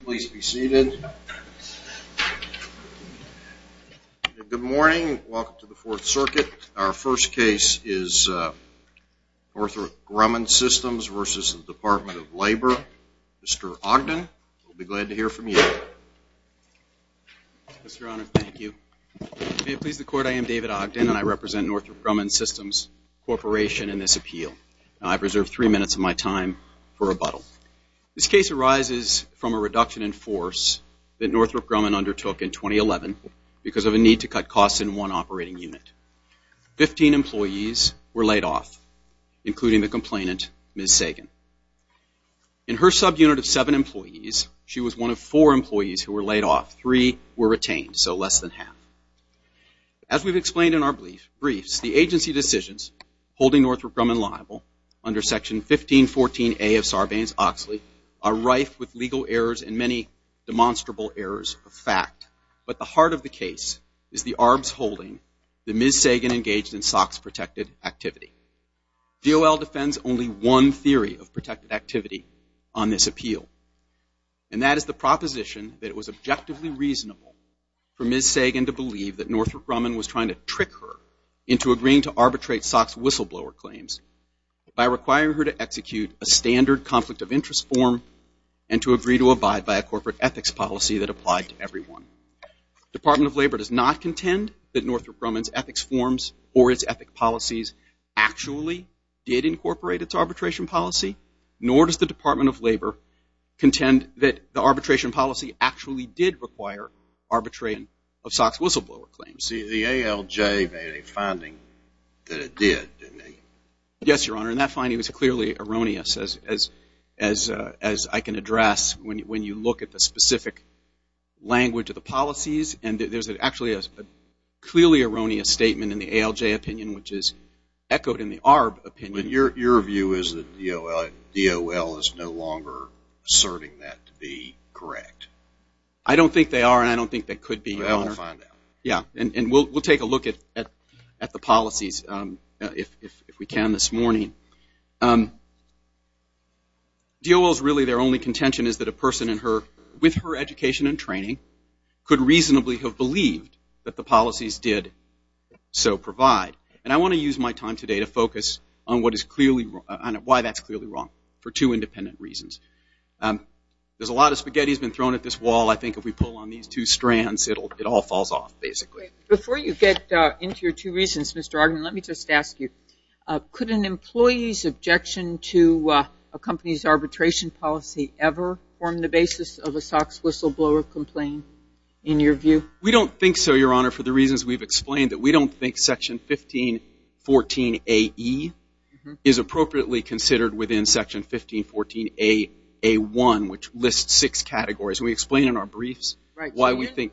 Please be seated. Good morning. Welcome to the Fourth Circuit. Our first case is Northrop Grumman Systems v. Department of Labor. Mr. Ogden, we'll be glad to hear from you. Mr. Honor, thank you. May it please the Court, I am David Ogden, and I represent Northrop Grumman Systems Corporation in this appeal. I've reserved three minutes of my time for rebuttal. This case arises from a reduction in force that Northrop Grumman undertook in 2011 because of a need to cut costs in one operating unit. Fifteen employees were laid off, including the complainant, Ms. Sagan. In her subunit of seven employees, she was one of four employees who were laid off. Three were retained, so less than half. As we've explained in our briefs, the agency decisions holding Northrop Grumman liable under Section 1514A of Sarbanes-Oxley are rife with legal errors and many demonstrable errors of fact. But the heart of the case is the ARB's holding that Ms. Sagan engaged in SOX-protected activity. DOL defends only one theory of protected activity on this appeal, and that is the proposition that it was objectively reasonable for Ms. Sagan to believe that Northrop Grumman was trying to trick her into agreeing to arbitrate SOX whistleblower claims by requiring her to execute a standard conflict of interest form and to agree to abide by a corporate ethics policy that applied to everyone. Department of Labor does not contend that Northrop Grumman's ethics forms or its ethic policies actually did incorporate its arbitration policy, nor does the Department of Labor contend that the arbitration policy actually did require arbitration of SOX whistleblower claims. The ALJ made a finding that it did, didn't it? Yes, Your Honor, and that finding was clearly erroneous, as I can address, when you look at the specific language of the policies. And there's actually a clearly erroneous statement in the ALJ opinion, which is echoed in the ARB opinion. But your view is that DOL is no longer asserting that to be correct? I don't think they are, and I don't think they could be, Your Honor. Well, we'll find out. Yeah, and we'll take a look at the policies if we can this morning. DOL's really their only contention is that a person with her education and training could reasonably have believed that the policies did so provide. And I want to use my time today to focus on why that's clearly wrong for two independent reasons. There's a lot of spaghetti that's been thrown at this wall. I think if we pull on these two strands, it all falls off, basically. Before you get into your two reasons, Mr. Argon, let me just ask you, could an employee's objection to a company's arbitration policy ever form the basis of a SOX whistleblower complaint, in your view? We don't think so, Your Honor, for the reasons we've explained, that we don't think Section 1514A-E is appropriately considered within Section 1514A-A-1, which lists six categories. Can we explain in our briefs why we think?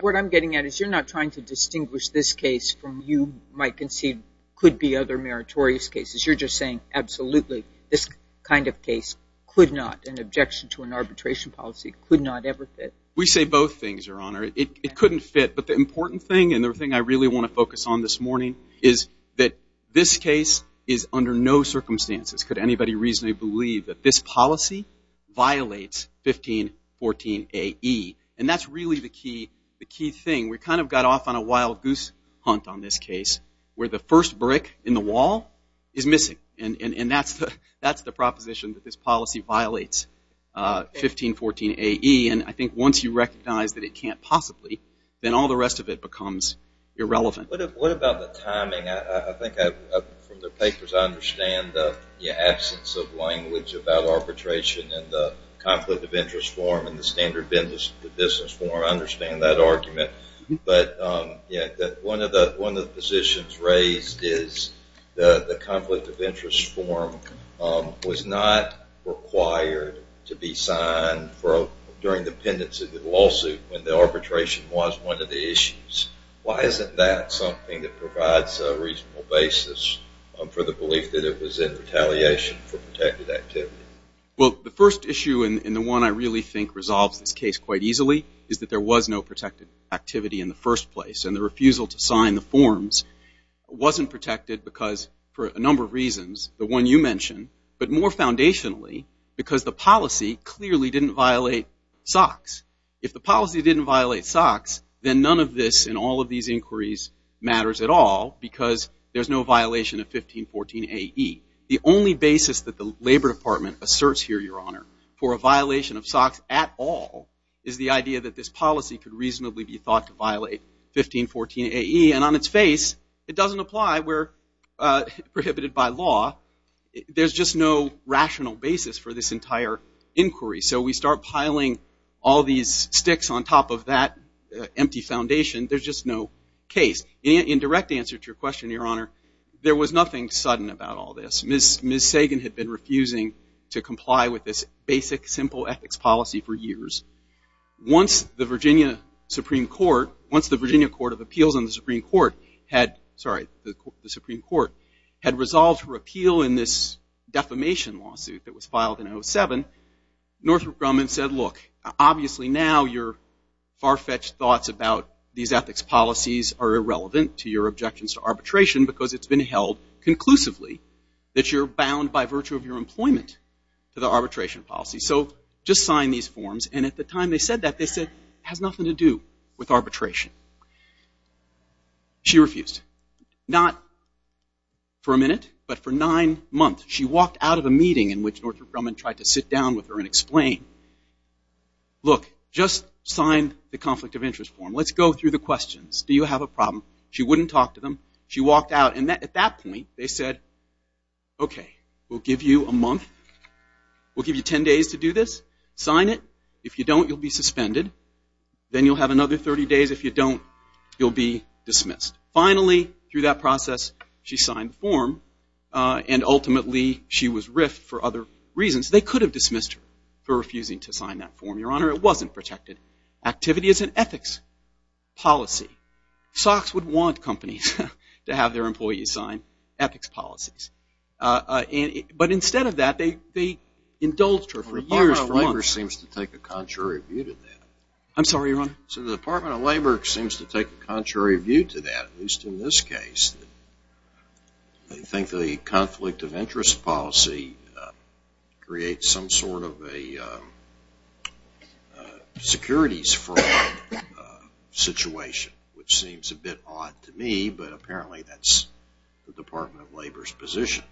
What I'm getting at is you're not trying to distinguish this case from what you might conceive could be other meritorious cases. You're just saying, absolutely, this kind of case could not, an objection to an arbitration policy, could not ever fit. We say both things, Your Honor. It couldn't fit. But the important thing, and the thing I really want to focus on this morning, is that this case is under no circumstances, could anybody reasonably believe, that this policy violates 1514A-E. And that's really the key thing. We kind of got off on a wild goose hunt on this case, where the first brick in the wall is missing. And that's the proposition, that this policy violates 1514A-E. And I think once you recognize that it can't possibly, then all the rest of it becomes irrelevant. What about the timing? I think from the papers I understand the absence of language about arbitration and the conflict of interest form and the standard business form. I understand that argument. But one of the positions raised is the conflict of interest form was not required to be signed during the pendency of the lawsuit when the arbitration was one of the issues. Why isn't that something that provides a reasonable basis for the belief that it was in retaliation for protected activity? Well, the first issue, and the one I really think resolves this case quite easily, is that there was no protected activity in the first place. And the refusal to sign the forms wasn't protected because, for a number of reasons, the one you mentioned, but more foundationally because the policy clearly didn't violate SOX. If the policy didn't violate SOX, then none of this and all of these inquiries matters at all because there's no violation of 1514A-E. The only basis that the Labor Department asserts here, Your Honor, for a violation of SOX at all is the idea that this policy could reasonably be thought to violate 1514A-E. And on its face, it doesn't apply. We're prohibited by law. There's just no rational basis for this entire inquiry. So we start piling all these sticks on top of that empty foundation. There's just no case. In direct answer to your question, Your Honor, there was nothing sudden about all this. Ms. Sagan had been refusing to comply with this basic, simple ethics policy for years. Once the Virginia Supreme Court, once the Virginia Court of Appeals and the Supreme Court had, sorry, the Supreme Court, had resolved her appeal in this defamation lawsuit that was filed in 07, Northrop Grumman said, Look, obviously now your far-fetched thoughts about these ethics policies are irrelevant to your objections to arbitration because it's been held conclusively that you're bound by virtue of your employment to the arbitration policy. So just sign these forms. And at the time they said that, they said it has nothing to do with arbitration. She refused, not for a minute, but for nine months. She walked out of a meeting in which Northrop Grumman tried to sit down with her and explain, Look, just sign the conflict of interest form. Let's go through the questions. Do you have a problem? She wouldn't talk to them. She walked out. And at that point, they said, Okay, we'll give you a month. We'll give you 10 days to do this. Sign it. If you don't, you'll be suspended. Then you'll have another 30 days. If you don't, you'll be dismissed. Finally, through that process, she signed the form. And ultimately, she was riffed for other reasons. They could have dismissed her for refusing to sign that form. Your Honor, it wasn't protected. Activity is an ethics policy. Sox would want companies to have their employees sign ethics policies. But instead of that, they indulged her for years. Labor seems to take a contrary view to that. I'm sorry, Your Honor. So the Department of Labor seems to take a contrary view to that, at least in this case. They think the conflict of interest policy creates some sort of a securities fraud situation, which seems a bit odd to me. But apparently, that's the Department of Labor's position.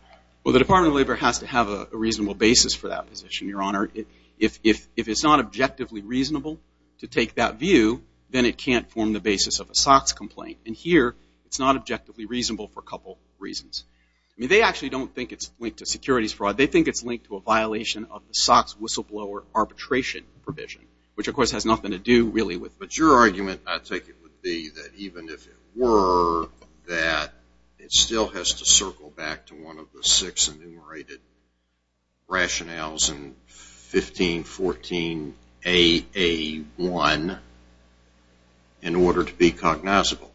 Well, the Department of Labor has to have a reasonable basis for that position, Your Honor. If it's not objectively reasonable to take that view, then it can't form the basis of a Sox complaint. And here, it's not objectively reasonable for a couple reasons. I mean, they actually don't think it's linked to securities fraud. They think it's linked to a violation of the Sox whistleblower arbitration provision, which, of course, has nothing to do really with it. Your argument, I take it, would be that even if it were, that it still has to circle back to one of the six enumerated rationales in 1514AA1 in order to be cognizable.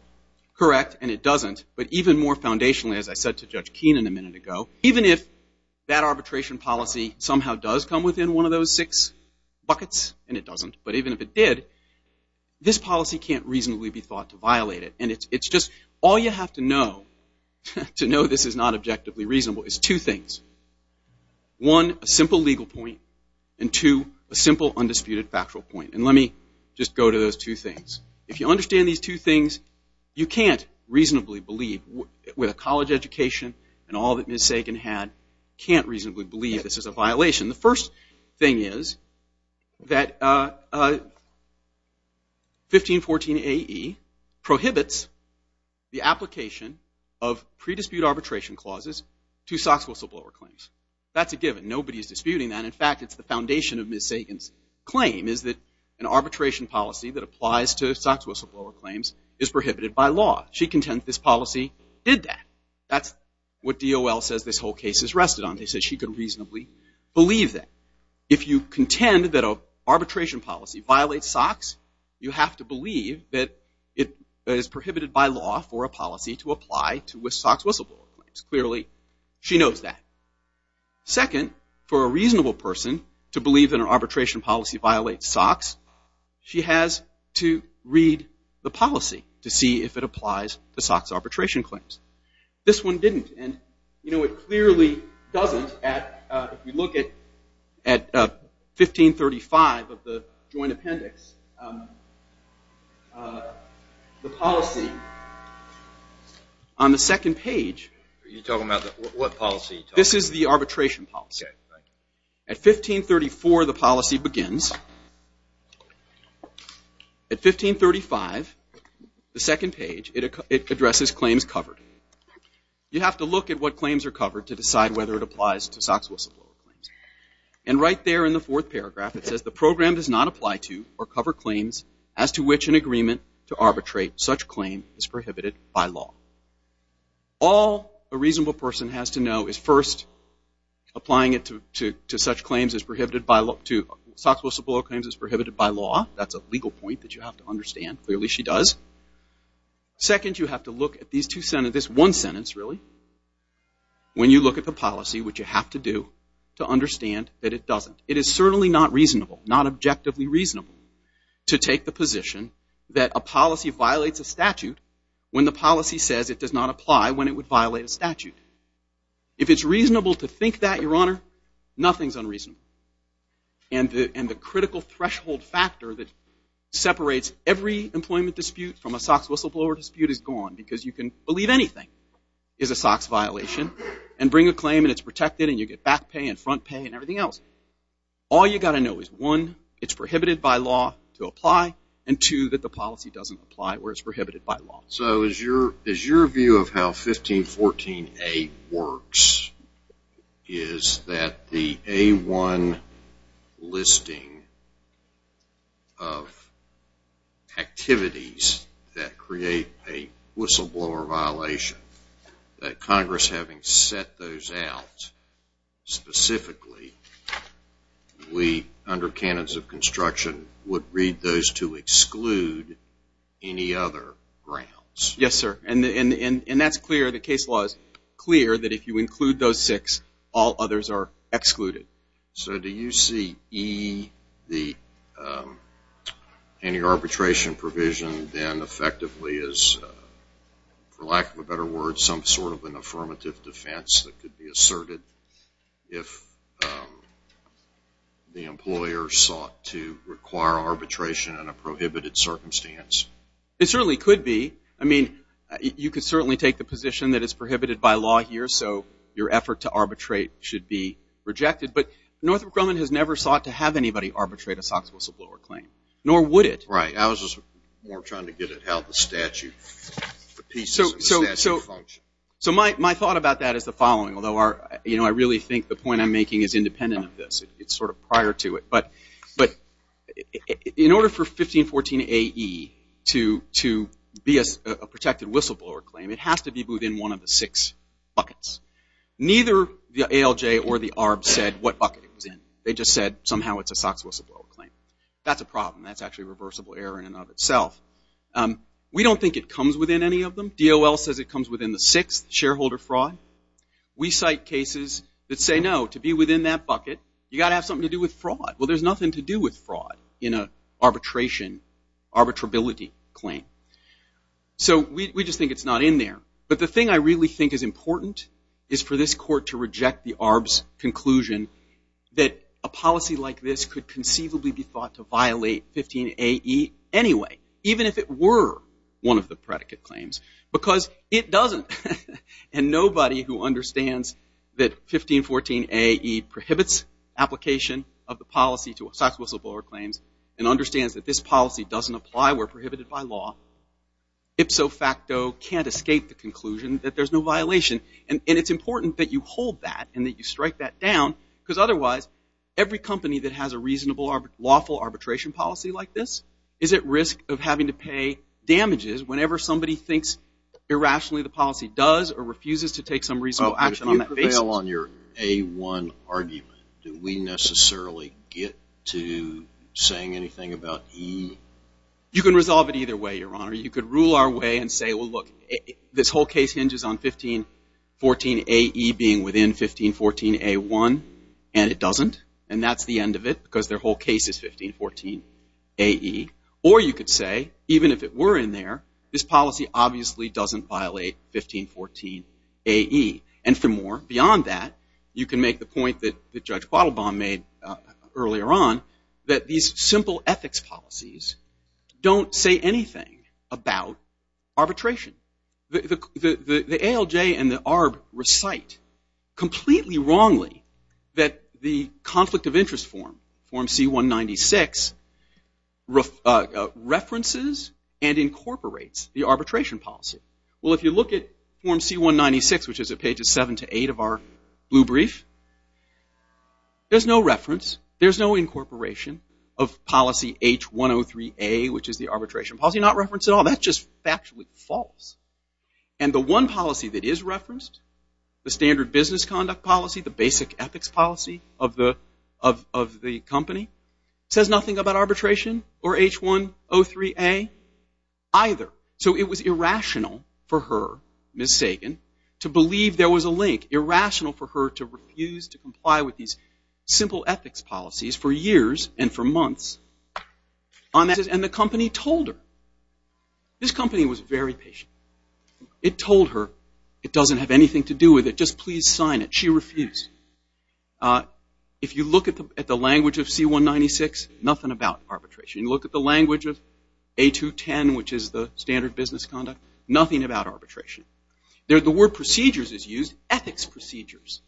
Correct, and it doesn't. But even more foundationally, as I said to Judge Keenan a minute ago, even if that arbitration policy somehow does come within one of those six pockets, and it doesn't, but even if it did, this policy can't reasonably be thought to violate it. And it's just all you have to know to know this is not objectively reasonable is two things. One, a simple legal point, and two, a simple undisputed factual point. And let me just go to those two things. If you understand these two things, you can't reasonably believe, with a college education and all that Ms. Sagan had, can't reasonably believe this is a violation. The first thing is that 1514AE prohibits the application of pre-dispute arbitration clauses to SOX whistleblower claims. That's a given. Nobody is disputing that. In fact, it's the foundation of Ms. Sagan's claim is that an arbitration policy that applies to SOX whistleblower claims is prohibited by law. She contends this policy did that. That's what DOL says this whole case is rested on. They said she could reasonably believe that. If you contend that an arbitration policy violates SOX, you have to believe that it is prohibited by law for a policy to apply to SOX whistleblower claims. Clearly, she knows that. Second, for a reasonable person to believe that an arbitration policy violates SOX, she has to read the policy to see if it applies to SOX arbitration claims. This one didn't. And, you know, it clearly doesn't. If you look at 1535 of the joint appendix, the policy on the second page. You're talking about what policy? This is the arbitration policy. At 1534, the policy begins. At 1535, the second page, it addresses claims covered. You have to look at what claims are covered to decide whether it applies to SOX whistleblower claims. And right there in the fourth paragraph, it says, the program does not apply to or cover claims as to which an agreement to arbitrate such claim is prohibited by law. All a reasonable person has to know is, first, applying it to SOX whistleblower claims is prohibited by law. That's a legal point that you have to understand. Clearly, she does. Second, you have to look at this one sentence, really, when you look at the policy, what you have to do to understand that it doesn't. It is certainly not reasonable, not objectively reasonable, to take the position that a policy violates a statute when the policy says it does not apply when it would violate a statute. If it's reasonable to think that, Your Honor, nothing's unreasonable. And the critical threshold factor that separates every employment dispute from a SOX whistleblower dispute is gone, because you can believe anything is a SOX violation and bring a claim and it's protected and you get back pay and front pay and everything else. All you've got to know is, one, it's prohibited by law to apply, and two, that the policy doesn't apply where it's prohibited by law. So is your view of how 1514A works is that the A1 listing of activities that create a whistleblower violation, that Congress having set those out specifically, we, under canons of construction, would read those to exclude any other grounds? Yes, sir, and that's clear. The case law is clear that if you include those six, all others are excluded. So do you see E, the anti-arbitration provision, then effectively is, for lack of a better word, some sort of an affirmative defense that could be asserted if the employer sought to require arbitration in a prohibited circumstance? It certainly could be. I mean, you could certainly take the position that it's prohibited by law here, so your effort to arbitrate should be rejected. But Northrop Grumman has never sought to have anybody arbitrate a SOX whistleblower claim, nor would it. Right. I was just more trying to get at how the statute, the pieces of the statute function. So my thought about that is the following, although I really think the point I'm making is independent of this. It's sort of prior to it. But in order for 1514AE to be a protected whistleblower claim, it has to be within one of the six buckets. Neither the ALJ or the ARB said what bucket it was in. They just said somehow it's a SOX whistleblower claim. That's a problem. That's actually a reversible error in and of itself. We don't think it comes within any of them. I think DOL says it comes within the sixth, shareholder fraud. We cite cases that say, no, to be within that bucket, you've got to have something to do with fraud. Well, there's nothing to do with fraud in an arbitration, arbitrability claim. So we just think it's not in there. But the thing I really think is important is for this court to reject the ARB's conclusion that a policy like this could conceivably be thought to violate 15AE anyway, even if it were one of the predicate claims, because it doesn't. And nobody who understands that 1514AE prohibits application of the policy to SOX whistleblower claims and understands that this policy doesn't apply, we're prohibited by law, ipso facto can't escape the conclusion that there's no violation. And it's important that you hold that and that you strike that down, because otherwise every company that has a reasonable, lawful arbitration policy like this is at risk of having to pay damages whenever somebody thinks irrationally the policy does or refuses to take some reasonable action on that basis. If you prevail on your A1 argument, do we necessarily get to saying anything about E? You can resolve it either way, Your Honor. You could rule our way and say, well, look, this whole case hinges on 1514AE being within 1514A1, and it doesn't, and that's the end of it, because their whole case is 1514AE. Or you could say, even if it were in there, this policy obviously doesn't violate 1514AE. And for more beyond that, you can make the point that Judge Quattlebaum made earlier on that these simple ethics policies don't say anything about arbitration. The ALJ and the ARB recite completely wrongly that the conflict of interest form, form C196, references and incorporates the arbitration policy. Well, if you look at form C196, which is at pages 7 to 8 of our blue brief, there's no reference, there's no incorporation of policy H103A, which is the arbitration policy. It's actually not referenced at all. That's just factually false. And the one policy that is referenced, the standard business conduct policy, the basic ethics policy of the company, says nothing about arbitration or H103A either. So it was irrational for her, Ms. Sagan, to believe there was a link, irrational for her to refuse to comply with these simple ethics policies for years and for months. And the company told her. This company was very patient. It told her it doesn't have anything to do with it. Just please sign it. She refused. If you look at the language of C196, nothing about arbitration. You look at the language of A210, which is the standard business conduct, nothing about arbitration. The word procedures is used, ethics procedures.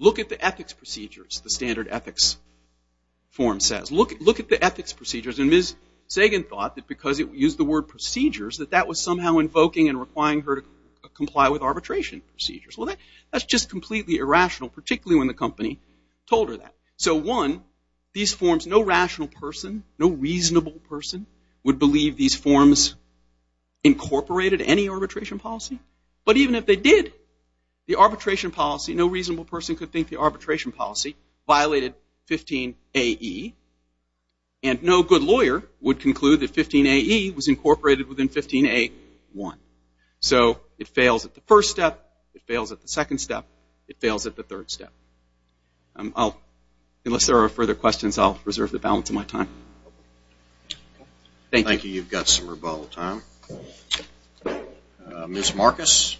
Look at the ethics procedures, the standard ethics form says. Look at the ethics procedures. And Ms. Sagan thought that because it used the word procedures, that that was somehow invoking and requiring her to comply with arbitration procedures. Well, that's just completely irrational, particularly when the company told her that. So, one, these forms, no rational person, no reasonable person, would believe these forms incorporated any arbitration policy. But even if they did, the arbitration policy, no reasonable person could think the arbitration policy violated 15AE. And no good lawyer would conclude that 15AE was incorporated within 15A1. So it fails at the first step. It fails at the second step. It fails at the third step. Unless there are further questions, I'll reserve the balance of my time. Thank you. Thank you. You've got some rebuttal time. Ms. Marcus.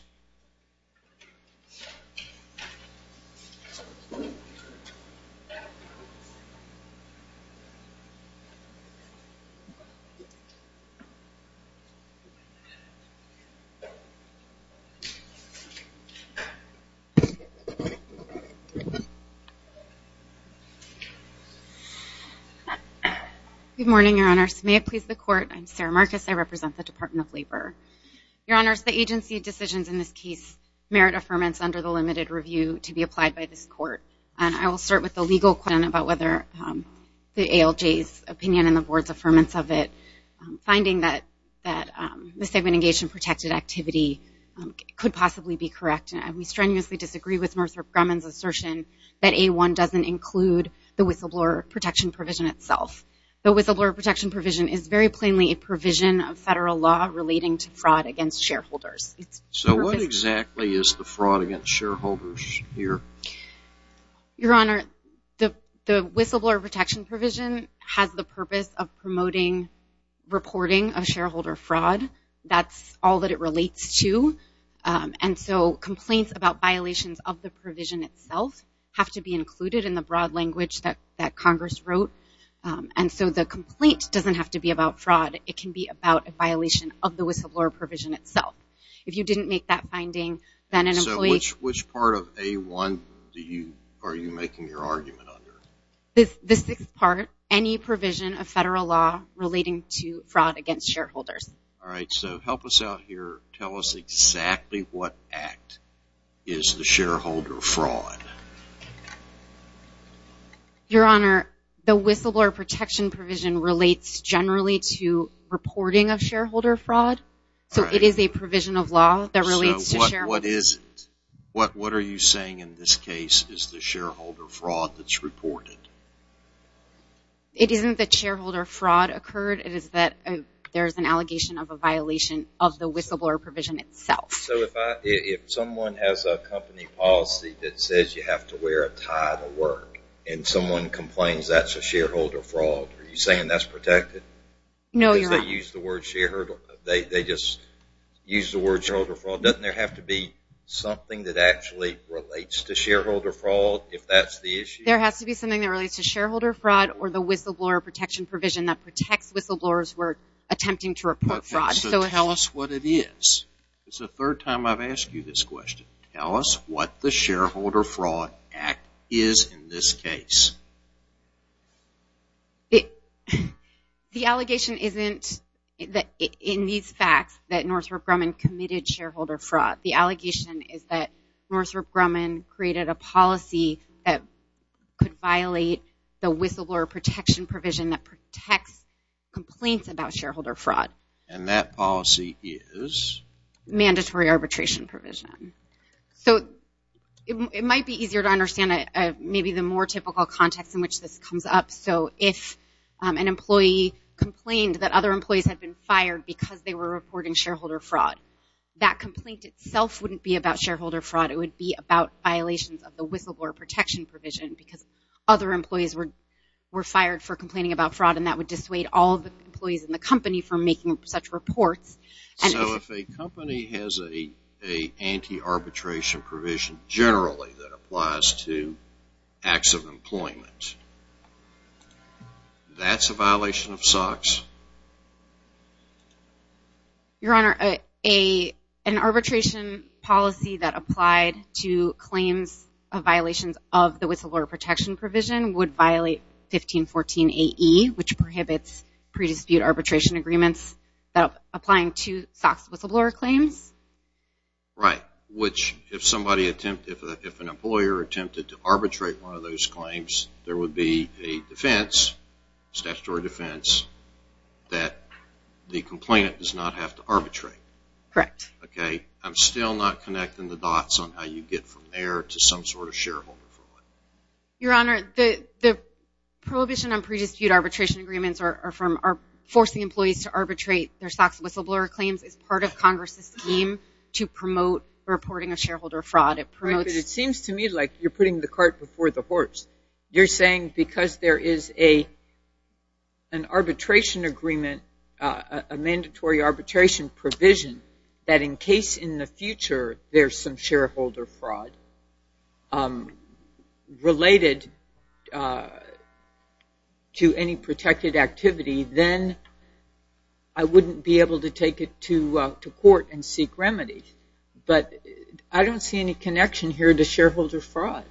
Good morning, Your Honors. May it please the Court. I'm Sarah Marcus. I represent the Department of Labor. Your Honors, the agency decisions in this case merit affirmance under the limited review to be applied by this Court. And I will start with the legal question about whether the ALJ's opinion and the Board's affirmance of it, finding that the segment engaged in protected activity could possibly be correct. And we strenuously disagree with Mr. Grumman's assertion that A1 doesn't include the whistleblower protection provision itself. The whistleblower protection provision is very plainly a provision of federal law relating to fraud against shareholders. So what exactly is the fraud against shareholders here? Your Honor, the whistleblower protection provision has the purpose of promoting reporting of shareholder fraud. That's all that it relates to. that Congress wrote. And so the complaint doesn't have to be about fraud. It can be about a violation of the whistleblower provision itself. If you didn't make that finding, then an employee... So which part of A1 are you making your argument under? The sixth part, any provision of federal law relating to fraud against shareholders. All right. So help us out here. Tell us exactly what act is the shareholder fraud. Your Honor, the whistleblower protection provision relates generally to reporting of shareholder fraud. So it is a provision of law that relates to shareholder fraud. So what is it? What are you saying in this case is the shareholder fraud that's reported? It isn't that shareholder fraud occurred. It is that there's an allegation of a violation of the whistleblower provision itself. So if someone has a company policy that says you have to wear a tie to work and someone complains that's a shareholder fraud, are you saying that's protected? No, Your Honor. Because they use the word shareholder. They just use the word shareholder fraud. Doesn't there have to be something that actually relates to shareholder fraud if that's the issue? There has to be something that relates to shareholder fraud or the whistleblower protection provision that protects whistleblowers who are attempting to report fraud. So tell us what it is. It's the third time I've asked you this question. Tell us what the Shareholder Fraud Act is in this case. The allegation isn't in these facts that Northrop Grumman committed shareholder fraud. The allegation is that Northrop Grumman created a policy that could violate the whistleblower protection provision that protects complaints about shareholder fraud. And that policy is? Mandatory arbitration provision. So it might be easier to understand maybe the more typical context in which this comes up. So if an employee complained that other employees had been fired because they were reporting shareholder fraud, that complaint itself wouldn't be about shareholder fraud. It would be about violations of the whistleblower protection provision because other employees were fired for complaining about fraud, and that would dissuade all of the employees in the company from making such reports. So if a company has an anti-arbitration provision generally that applies to acts of employment, that's a violation of SOX? Your Honor, an arbitration policy that applied to claims of violations of the whistleblower protection provision would violate 1514AE, which prohibits pre-dispute arbitration agreements applying to SOX whistleblower claims. Right, which if an employer attempted to arbitrate one of those claims, there would be a defense, statutory defense, that the complainant does not have to arbitrate. Correct. Okay. I'm still not connecting the dots on how you get from there to some sort of shareholder fraud. Your Honor, the prohibition on pre-dispute arbitration agreements are forcing employees to arbitrate their SOX whistleblower claims as part of Congress' scheme to promote reporting of shareholder fraud. It seems to me like you're putting the cart before the horse. You're saying because there is an arbitration agreement, a mandatory arbitration provision, that in case in the future there's some shareholder fraud related to any protected activity, then I wouldn't be able to take it to court and seek remedy. But I don't see any connection here to shareholder fraud.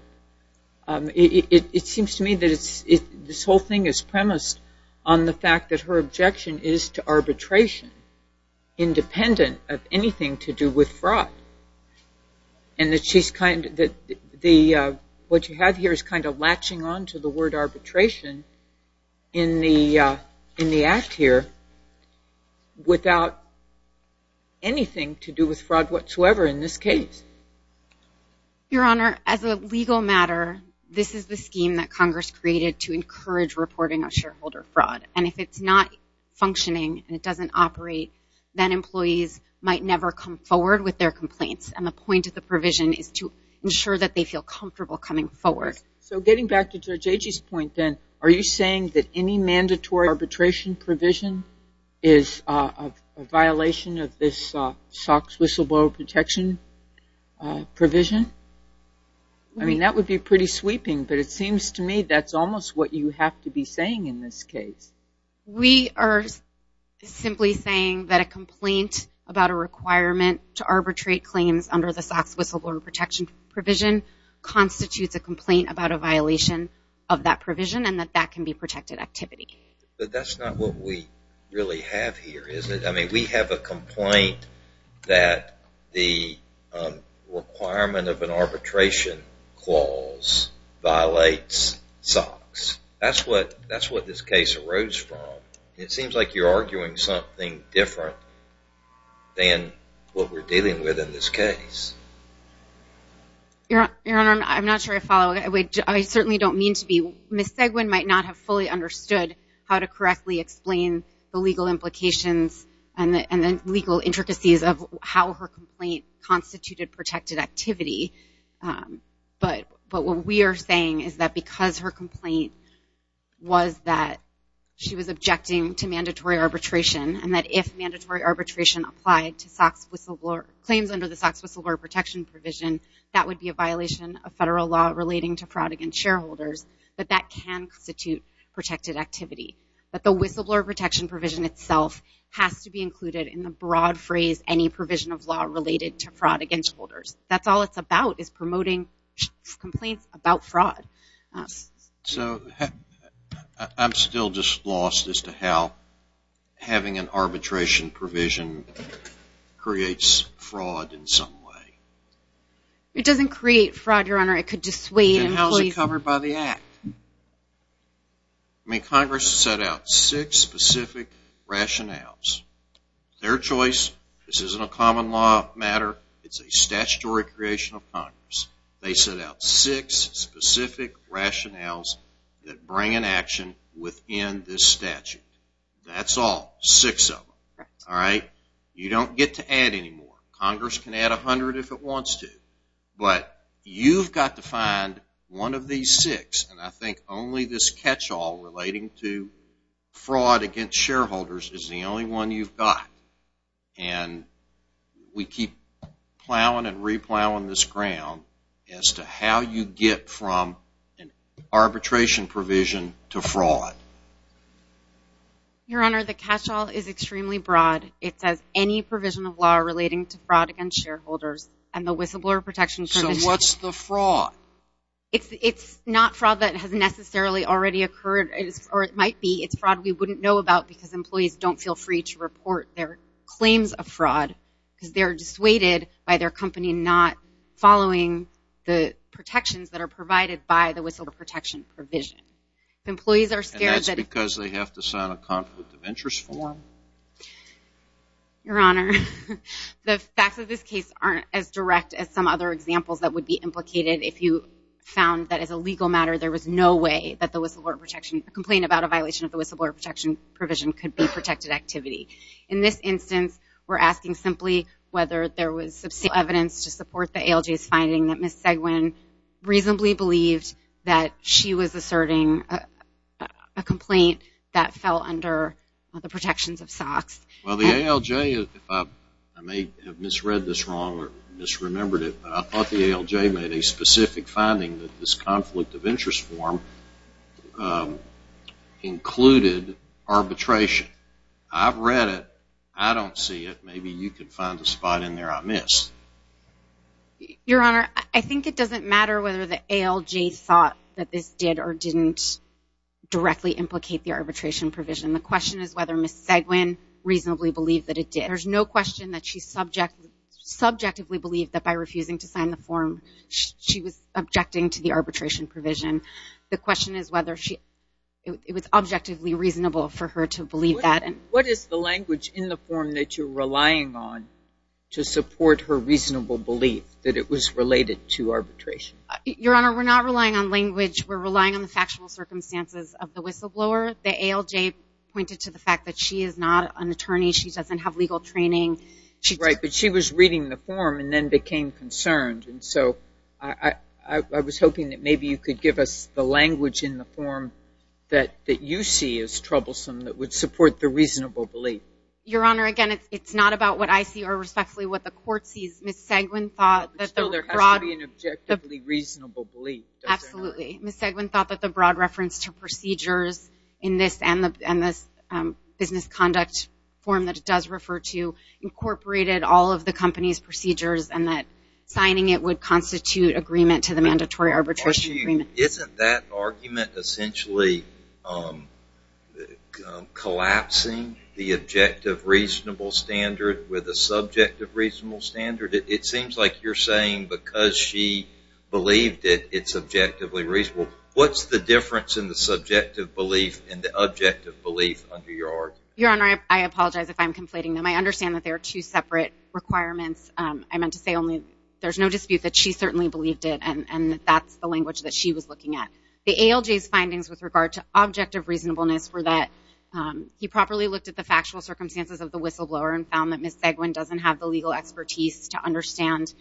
It seems to me that this whole thing is premised on the fact that her objection is to arbitration independent of anything to do with fraud. And what you have here is kind of latching on to the word arbitration in the act here without anything to do with fraud whatsoever in this case. Your Honor, as a legal matter, this is the scheme that Congress created to encourage reporting of shareholder fraud. And if it's not functioning and it doesn't operate, then employees might never come forward with their complaints. And the point of the provision is to ensure that they feel comfortable coming forward. So getting back to Judge Agee's point then, are you saying that any mandatory arbitration provision is a violation of this SOX whistleblower protection provision? I mean, that would be pretty sweeping, but it seems to me that's almost what you have to be saying in this case. We are simply saying that a complaint about a requirement to arbitrate claims under the SOX whistleblower protection provision constitutes a complaint about a violation of that provision and that that can be protected activity. But that's not what we really have here, is it? I mean, we have a complaint that the requirement of an arbitration clause violates SOX. That's what this case arose from. It seems like you're arguing something different than what we're dealing with in this case. Your Honor, I'm not sure I follow. I certainly don't mean to be. Ms. Seguin might not have fully understood how to correctly explain the legal implications and the legal intricacies of how her complaint constituted protected activity. But what we are saying is that because her complaint was that she was objecting to mandatory arbitration and that if mandatory arbitration applied to claims under the SOX whistleblower protection provision, that would be a violation of federal law relating to fraud against shareholders, that that can constitute protected activity. But the whistleblower protection provision itself has to be included in the broad phrase any provision of law related to fraud against holders. That's all it's about, is promoting complaints about fraud. So, I'm still just lost as to how having an arbitration provision creates fraud in some way. It doesn't create fraud, Your Honor. It could dissuade employees. Then how is it covered by the Act? I mean, Congress set out six specific rationales. Their choice, this isn't a common law matter, it's a statutory creation of Congress. They set out six specific rationales that bring an action within this statute. That's all, six of them, all right? You don't get to add any more. Congress can add 100 if it wants to. But you've got to find one of these six, and I think only this catch-all relating to fraud against shareholders is the only one you've got. And we keep plowing and replowing this ground as to how you get from arbitration provision to fraud. Your Honor, the catch-all is extremely broad. It says any provision of law relating to fraud against shareholders, and the whistleblower protection provision... So, what's the fraud? It's not fraud that has necessarily already occurred, or it might be. It's fraud we wouldn't know about because employees don't feel free to report their claims of fraud because they're dissuaded by their company not following the protections that are provided by the whistleblower protection provision. If employees are scared that... And that's because they have to sign a conflict of interest form? Your Honor, the facts of this case aren't as direct as some other examples that would be implicated if you found that as a legal matter there was no way that the whistleblower protection... a complaint about a violation of the whistleblower protection provision could be protected activity. In this instance, we're asking simply whether there was substantial evidence to support the ALJ's finding that Ms. Seguin reasonably believed that she was asserting a complaint that fell under the protections of SOX. Well, the ALJ, if I may have misread this wrong or misremembered it, I thought the ALJ made a specific finding that this conflict of interest form included arbitration. I've read it. I don't see it. Maybe you can find a spot in there I missed. Your Honor, I think it doesn't matter whether the ALJ thought that this did or didn't directly implicate the arbitration provision. The question is whether Ms. Seguin reasonably believed that it did. There's no question that she subjectively believed that by refusing to sign the form she was objecting to the arbitration provision. The question is whether it was objectively reasonable for her to believe that. What is the language in the form that you're relying on to support her reasonable belief that it was related to arbitration? Your Honor, we're not relying on language. We're relying on the factual circumstances of the whistleblower. She doesn't have legal training. Right, but she was reading the form and then became concerned. And so I was hoping that maybe you could give us the language in the form that you see is troublesome that would support the reasonable belief. Your Honor, again, it's not about what I see or respectfully what the court sees. Ms. Seguin thought that the broad- Still, there has to be an objectively reasonable belief. Absolutely. Ms. Seguin thought that the broad reference to procedures in this and this business conduct form that it does refer to incorporated all of the company's procedures and that signing it would constitute agreement to the mandatory arbitration agreement. Isn't that argument essentially collapsing the objective reasonable standard with a subjective reasonable standard? It seems like you're saying because she believed it, it's objectively reasonable. What's the difference in the subjective belief and the objective belief under your argument? Your Honor, I apologize if I'm conflating them. I understand that they are two separate requirements. I meant to say only there's no dispute that she certainly believed it, and that's the language that she was looking at. The ALJ's findings with regard to objective reasonableness were that he properly looked at the factual circumstances of the whistleblower and found that Ms. Seguin doesn't have the legal expertise to understand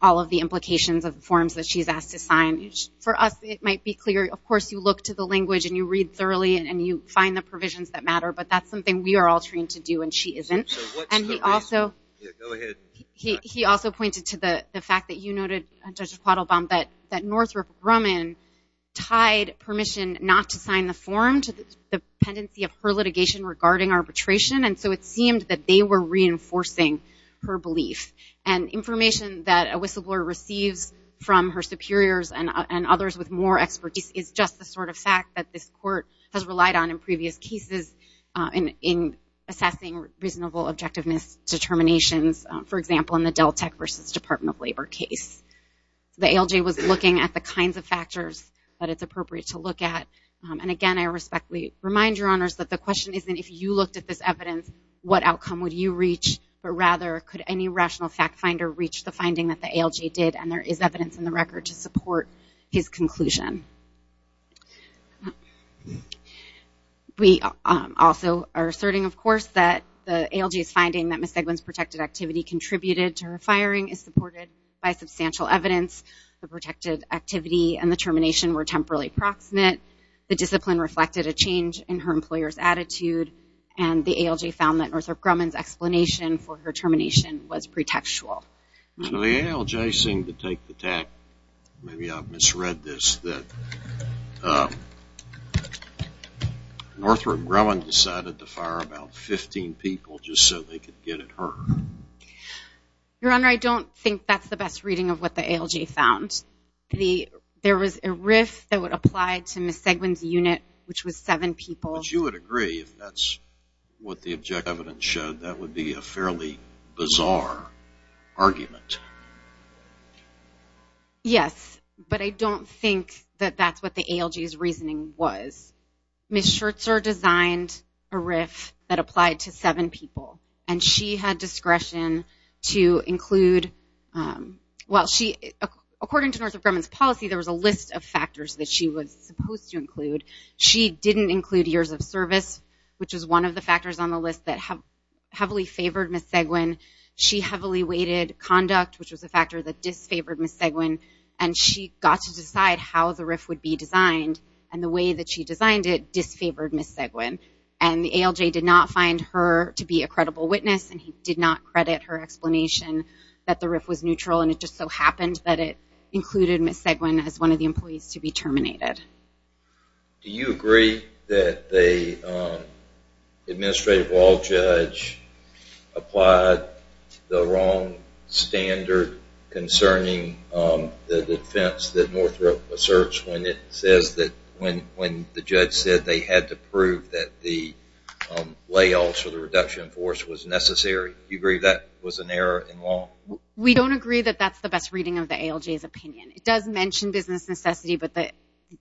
all of the implications of the forms that she's asked to sign. For us, it might be clear, of course, you look to the language and you read thoroughly and you find the provisions that matter, but that's something we are all trained to do and she isn't. So what's the reason? Go ahead. He also pointed to the fact that you noted, Judge Quattlebaum, that Northrop Grumman tied permission not to sign the form to the pendency of her litigation regarding arbitration, and so it seemed that they were reinforcing her belief. And information that a whistleblower receives from her superiors and others with more expertise is just the sort of fact that this Court has relied on in previous cases in assessing reasonable objectiveness determinations, for example, in the Deltek v. Department of Labor case. The ALJ was looking at the kinds of factors that it's appropriate to look at. And again, I respectfully remind Your Honors that the question isn't, if you looked at this evidence, what outcome would you reach, but rather could any rational fact finder reach the finding that the ALJ did, and there is evidence in the record to support his conclusion. We also are asserting, of course, that the ALJ's finding that Ms. Seguin's protected activity contributed to her firing is supported by substantial evidence. The protected activity and the termination were temporarily proximate. The discipline reflected a change in her employer's attitude, and the ALJ found that Northrop Grumman's explanation for her termination was pretextual. So the ALJ seemed to take the tack. Maybe I misread this, that Northrop Grumman decided to fire about 15 people just so they could get at her. Your Honor, I don't think that's the best reading of what the ALJ found. There was a RIF that would apply to Ms. Seguin's unit, which was seven people. But you would agree, if that's what the objective evidence showed, that would be a fairly bizarre argument. Yes, but I don't think that that's what the ALJ's reasoning was. Ms. Scherzer designed a RIF that applied to seven people, and she had discretion to include – well, according to Northrop Grumman's policy, there was a list of factors that she was supposed to include. She didn't include years of service, which was one of the factors on the list that heavily favored Ms. Seguin. She heavily weighted conduct, which was a factor that disfavored Ms. Seguin, and she got to decide how the RIF would be designed, and the way that she designed it disfavored Ms. Seguin. And the ALJ did not find her to be a credible witness, and he did not credit her explanation that the RIF was neutral, and it just so happened that it included Ms. Seguin as one of the employees to be terminated. Do you agree that the administrative law judge applied the wrong standard concerning the defense that Northrop asserts when it says that – when the judge said they had to prove that the layoffs or the reduction of force was necessary? Do you agree that was an error in law? We don't agree that that's the best reading of the ALJ's opinion. It does mention business necessity, but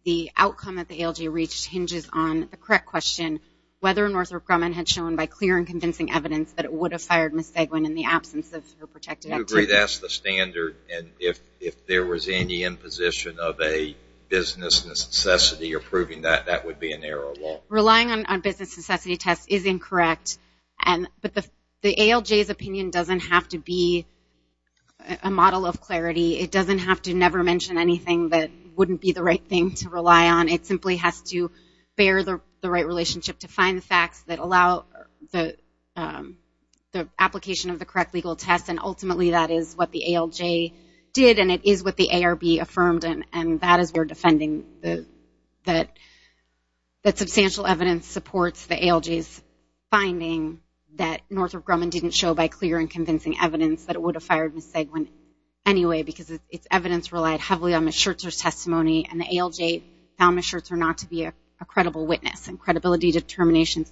the outcome that the ALJ reached hinges on the correct question, whether Northrop Grumman had shown, by clear and convincing evidence, that it would have fired Ms. Seguin in the absence of her protected activity. Do you agree that's the standard, and if there was any imposition of a business necessity or proving that, that would be an error of law? Relying on business necessity tests is incorrect, but the ALJ's opinion doesn't have to be a model of clarity. It doesn't have to never mention anything that wouldn't be the right thing to rely on. It simply has to bear the right relationship to find the facts that allow the application of the correct legal test, and ultimately that is what the ALJ did, and it is what the ARB affirmed, and that is why we're defending that substantial evidence supports the ALJ's finding that Northrop Grumman didn't show, by clear and convincing evidence, that it would have fired Ms. Seguin anyway, because its evidence relied heavily on Ms. Schertzer's testimony, and the ALJ found Ms. Schertzer not to be a credible witness and credibility determination.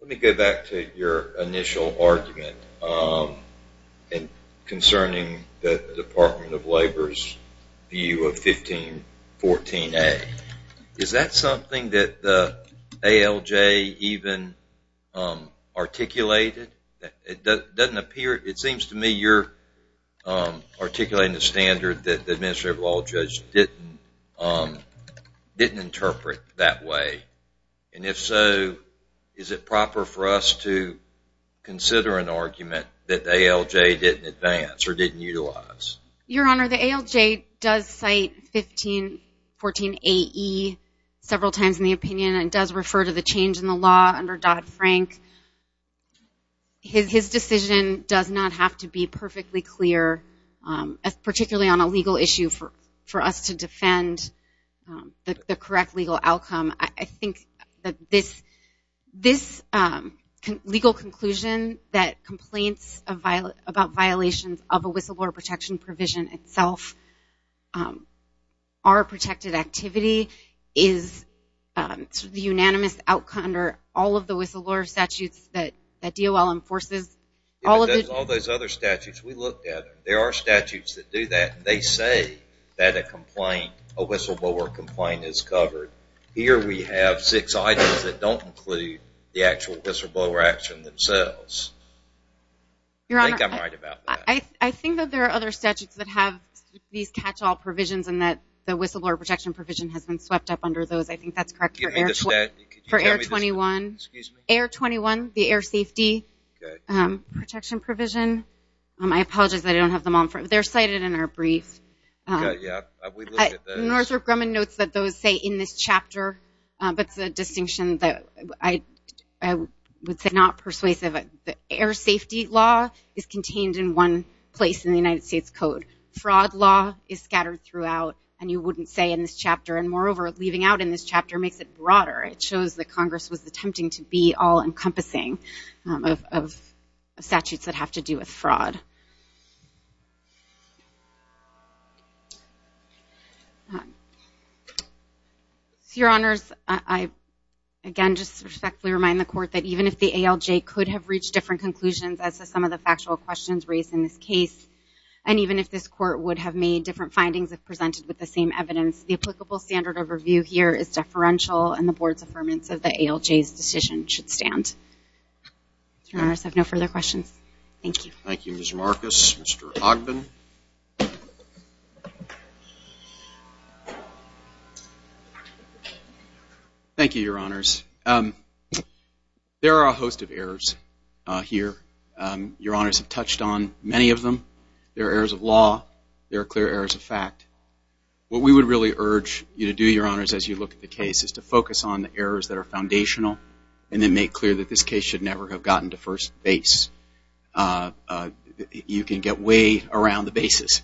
Let me go back to your initial argument concerning the Department of Labor's view of 1514A. Is that something that the ALJ even articulated? It seems to me you're articulating a standard that the Administrative Law Judge didn't interpret that way, and if so, is it proper for us to consider an argument that the ALJ didn't advance or didn't utilize? Your Honor, the ALJ does cite 1514AE several times in the opinion, and does refer to the change in the law under Dodd-Frank. His decision does not have to be perfectly clear, particularly on a legal issue, for us to defend the correct legal outcome. I think that this legal conclusion that complaints about violations of a whistleblower protection provision itself are a protected activity is the unanimous outcome under all of the whistleblower statutes that DOL enforces. All those other statutes, we looked at them. There are statutes that do that. They say that a whistleblower complaint is covered. Here we have six items that don't include the actual whistleblower action themselves. I think I'm right about that. I think that there are other statutes that have these catch-all provisions and that the whistleblower protection provision has been swept up under those. I think that's correct for Air 21. Air 21, the air safety protection provision. I apologize that I don't have them on. They're cited in our brief. Northrop Grumman notes that those say in this chapter, but it's a distinction that I would say is not persuasive. The air safety law is contained in one place in the United States Code. Fraud law is scattered throughout, and you wouldn't say in this chapter. Moreover, leaving out in this chapter makes it broader. It shows that Congress was attempting to be all-encompassing of statutes that have to do with fraud. Your Honors, I again just respectfully remind the Court that even if the ALJ could have reached different conclusions as to some of the factual questions raised in this case, and even if this Court would have made different findings if presented with the same evidence, the applicable standard of review here is deferential, and the Board's affirmance of the ALJ's decision should stand. Your Honors, I have no further questions. Thank you. Thank you, Ms. Marcus. Mr. Ogden. Thank you, Your Honors. There are a host of errors here. Your Honors have touched on many of them. There are errors of law. There are clear errors of fact. What we would really urge you to do, Your Honors, as you look at the case, is to focus on the errors that are foundational and then make clear that this case should never have gotten to first base. You can get way around the bases,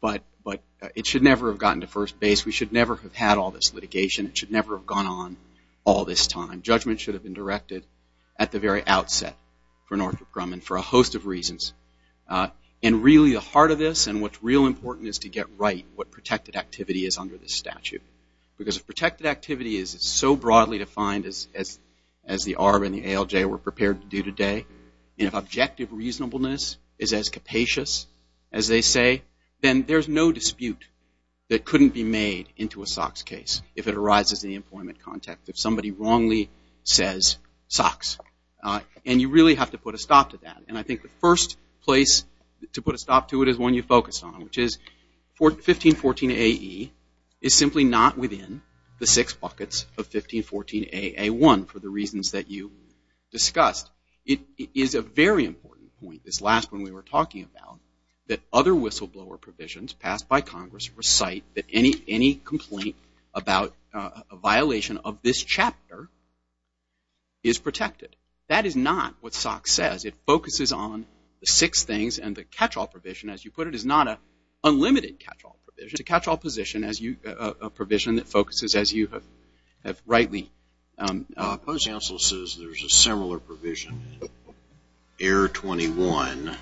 but it should never have gotten to first base. We should never have had all this litigation. It should never have gone on all this time. Judgment should have been directed at the very outset for Northrop Grumman for a host of reasons. And really, the heart of this and what's real important is to get right what protected activity is under this statute because if protected activity is so broadly defined as the ARB and the ALJ were prepared to do today, and if objective reasonableness is as capacious as they say, then there's no dispute that couldn't be made into a SOX case if it arises in the employment context, if somebody wrongly says SOX. And you really have to put a stop to that. And I think the first place to put a stop to it is one you focused on, which is 1514AE is simply not within the six buckets of 1514AA1 for the reasons that you discussed. It is a very important point, this last one we were talking about, that other whistleblower provisions passed by Congress recite that any complaint about a violation of this chapter is protected. That is not what SOX says. It focuses on the six things. And the catch-all provision, as you put it, is not an unlimited catch-all provision. It's a catch-all position, a provision that focuses as you have rightly opposed. Counsel says there's a similar provision, error 21.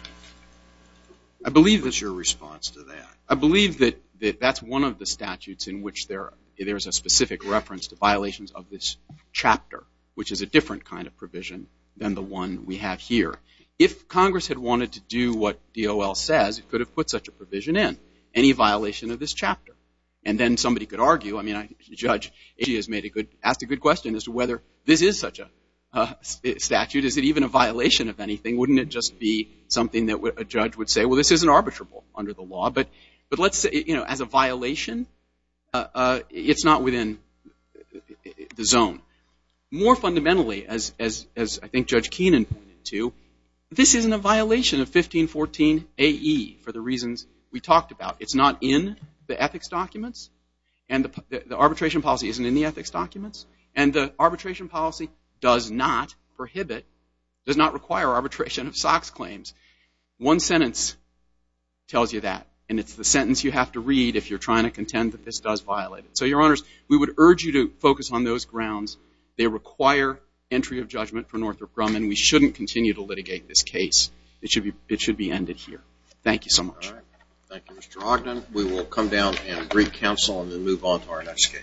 What's your response to that? I believe that that's one of the statutes in which there's a specific reference to violations of this chapter, which is a different kind of provision than the one we have here. If Congress had wanted to do what DOL says, it could have put such a provision in, any violation of this chapter. And then somebody could argue. I mean, Judge Ishii has asked a good question as to whether this is such a statute. Is it even a violation of anything? Wouldn't it just be something that a judge would say, well, this isn't arbitrable under the law? But let's say, you know, as a violation, it's not within the zone. More fundamentally, as I think Judge Keenan pointed to, this isn't a violation of 1514AE for the reasons we talked about. It's not in the ethics documents, and the arbitration policy isn't in the ethics documents, and the arbitration policy does not prohibit, does not require arbitration of SOX claims. One sentence tells you that, and it's the sentence you have to read if you're trying to contend that this does violate it. So, Your Honors, we would urge you to focus on those grounds. They require entry of judgment for Northrop Grumman. We shouldn't continue to litigate this case. It should be ended here. Thank you so much. All right. Thank you, Mr. Ogden. We will come down and brief counsel and then move on to our next case.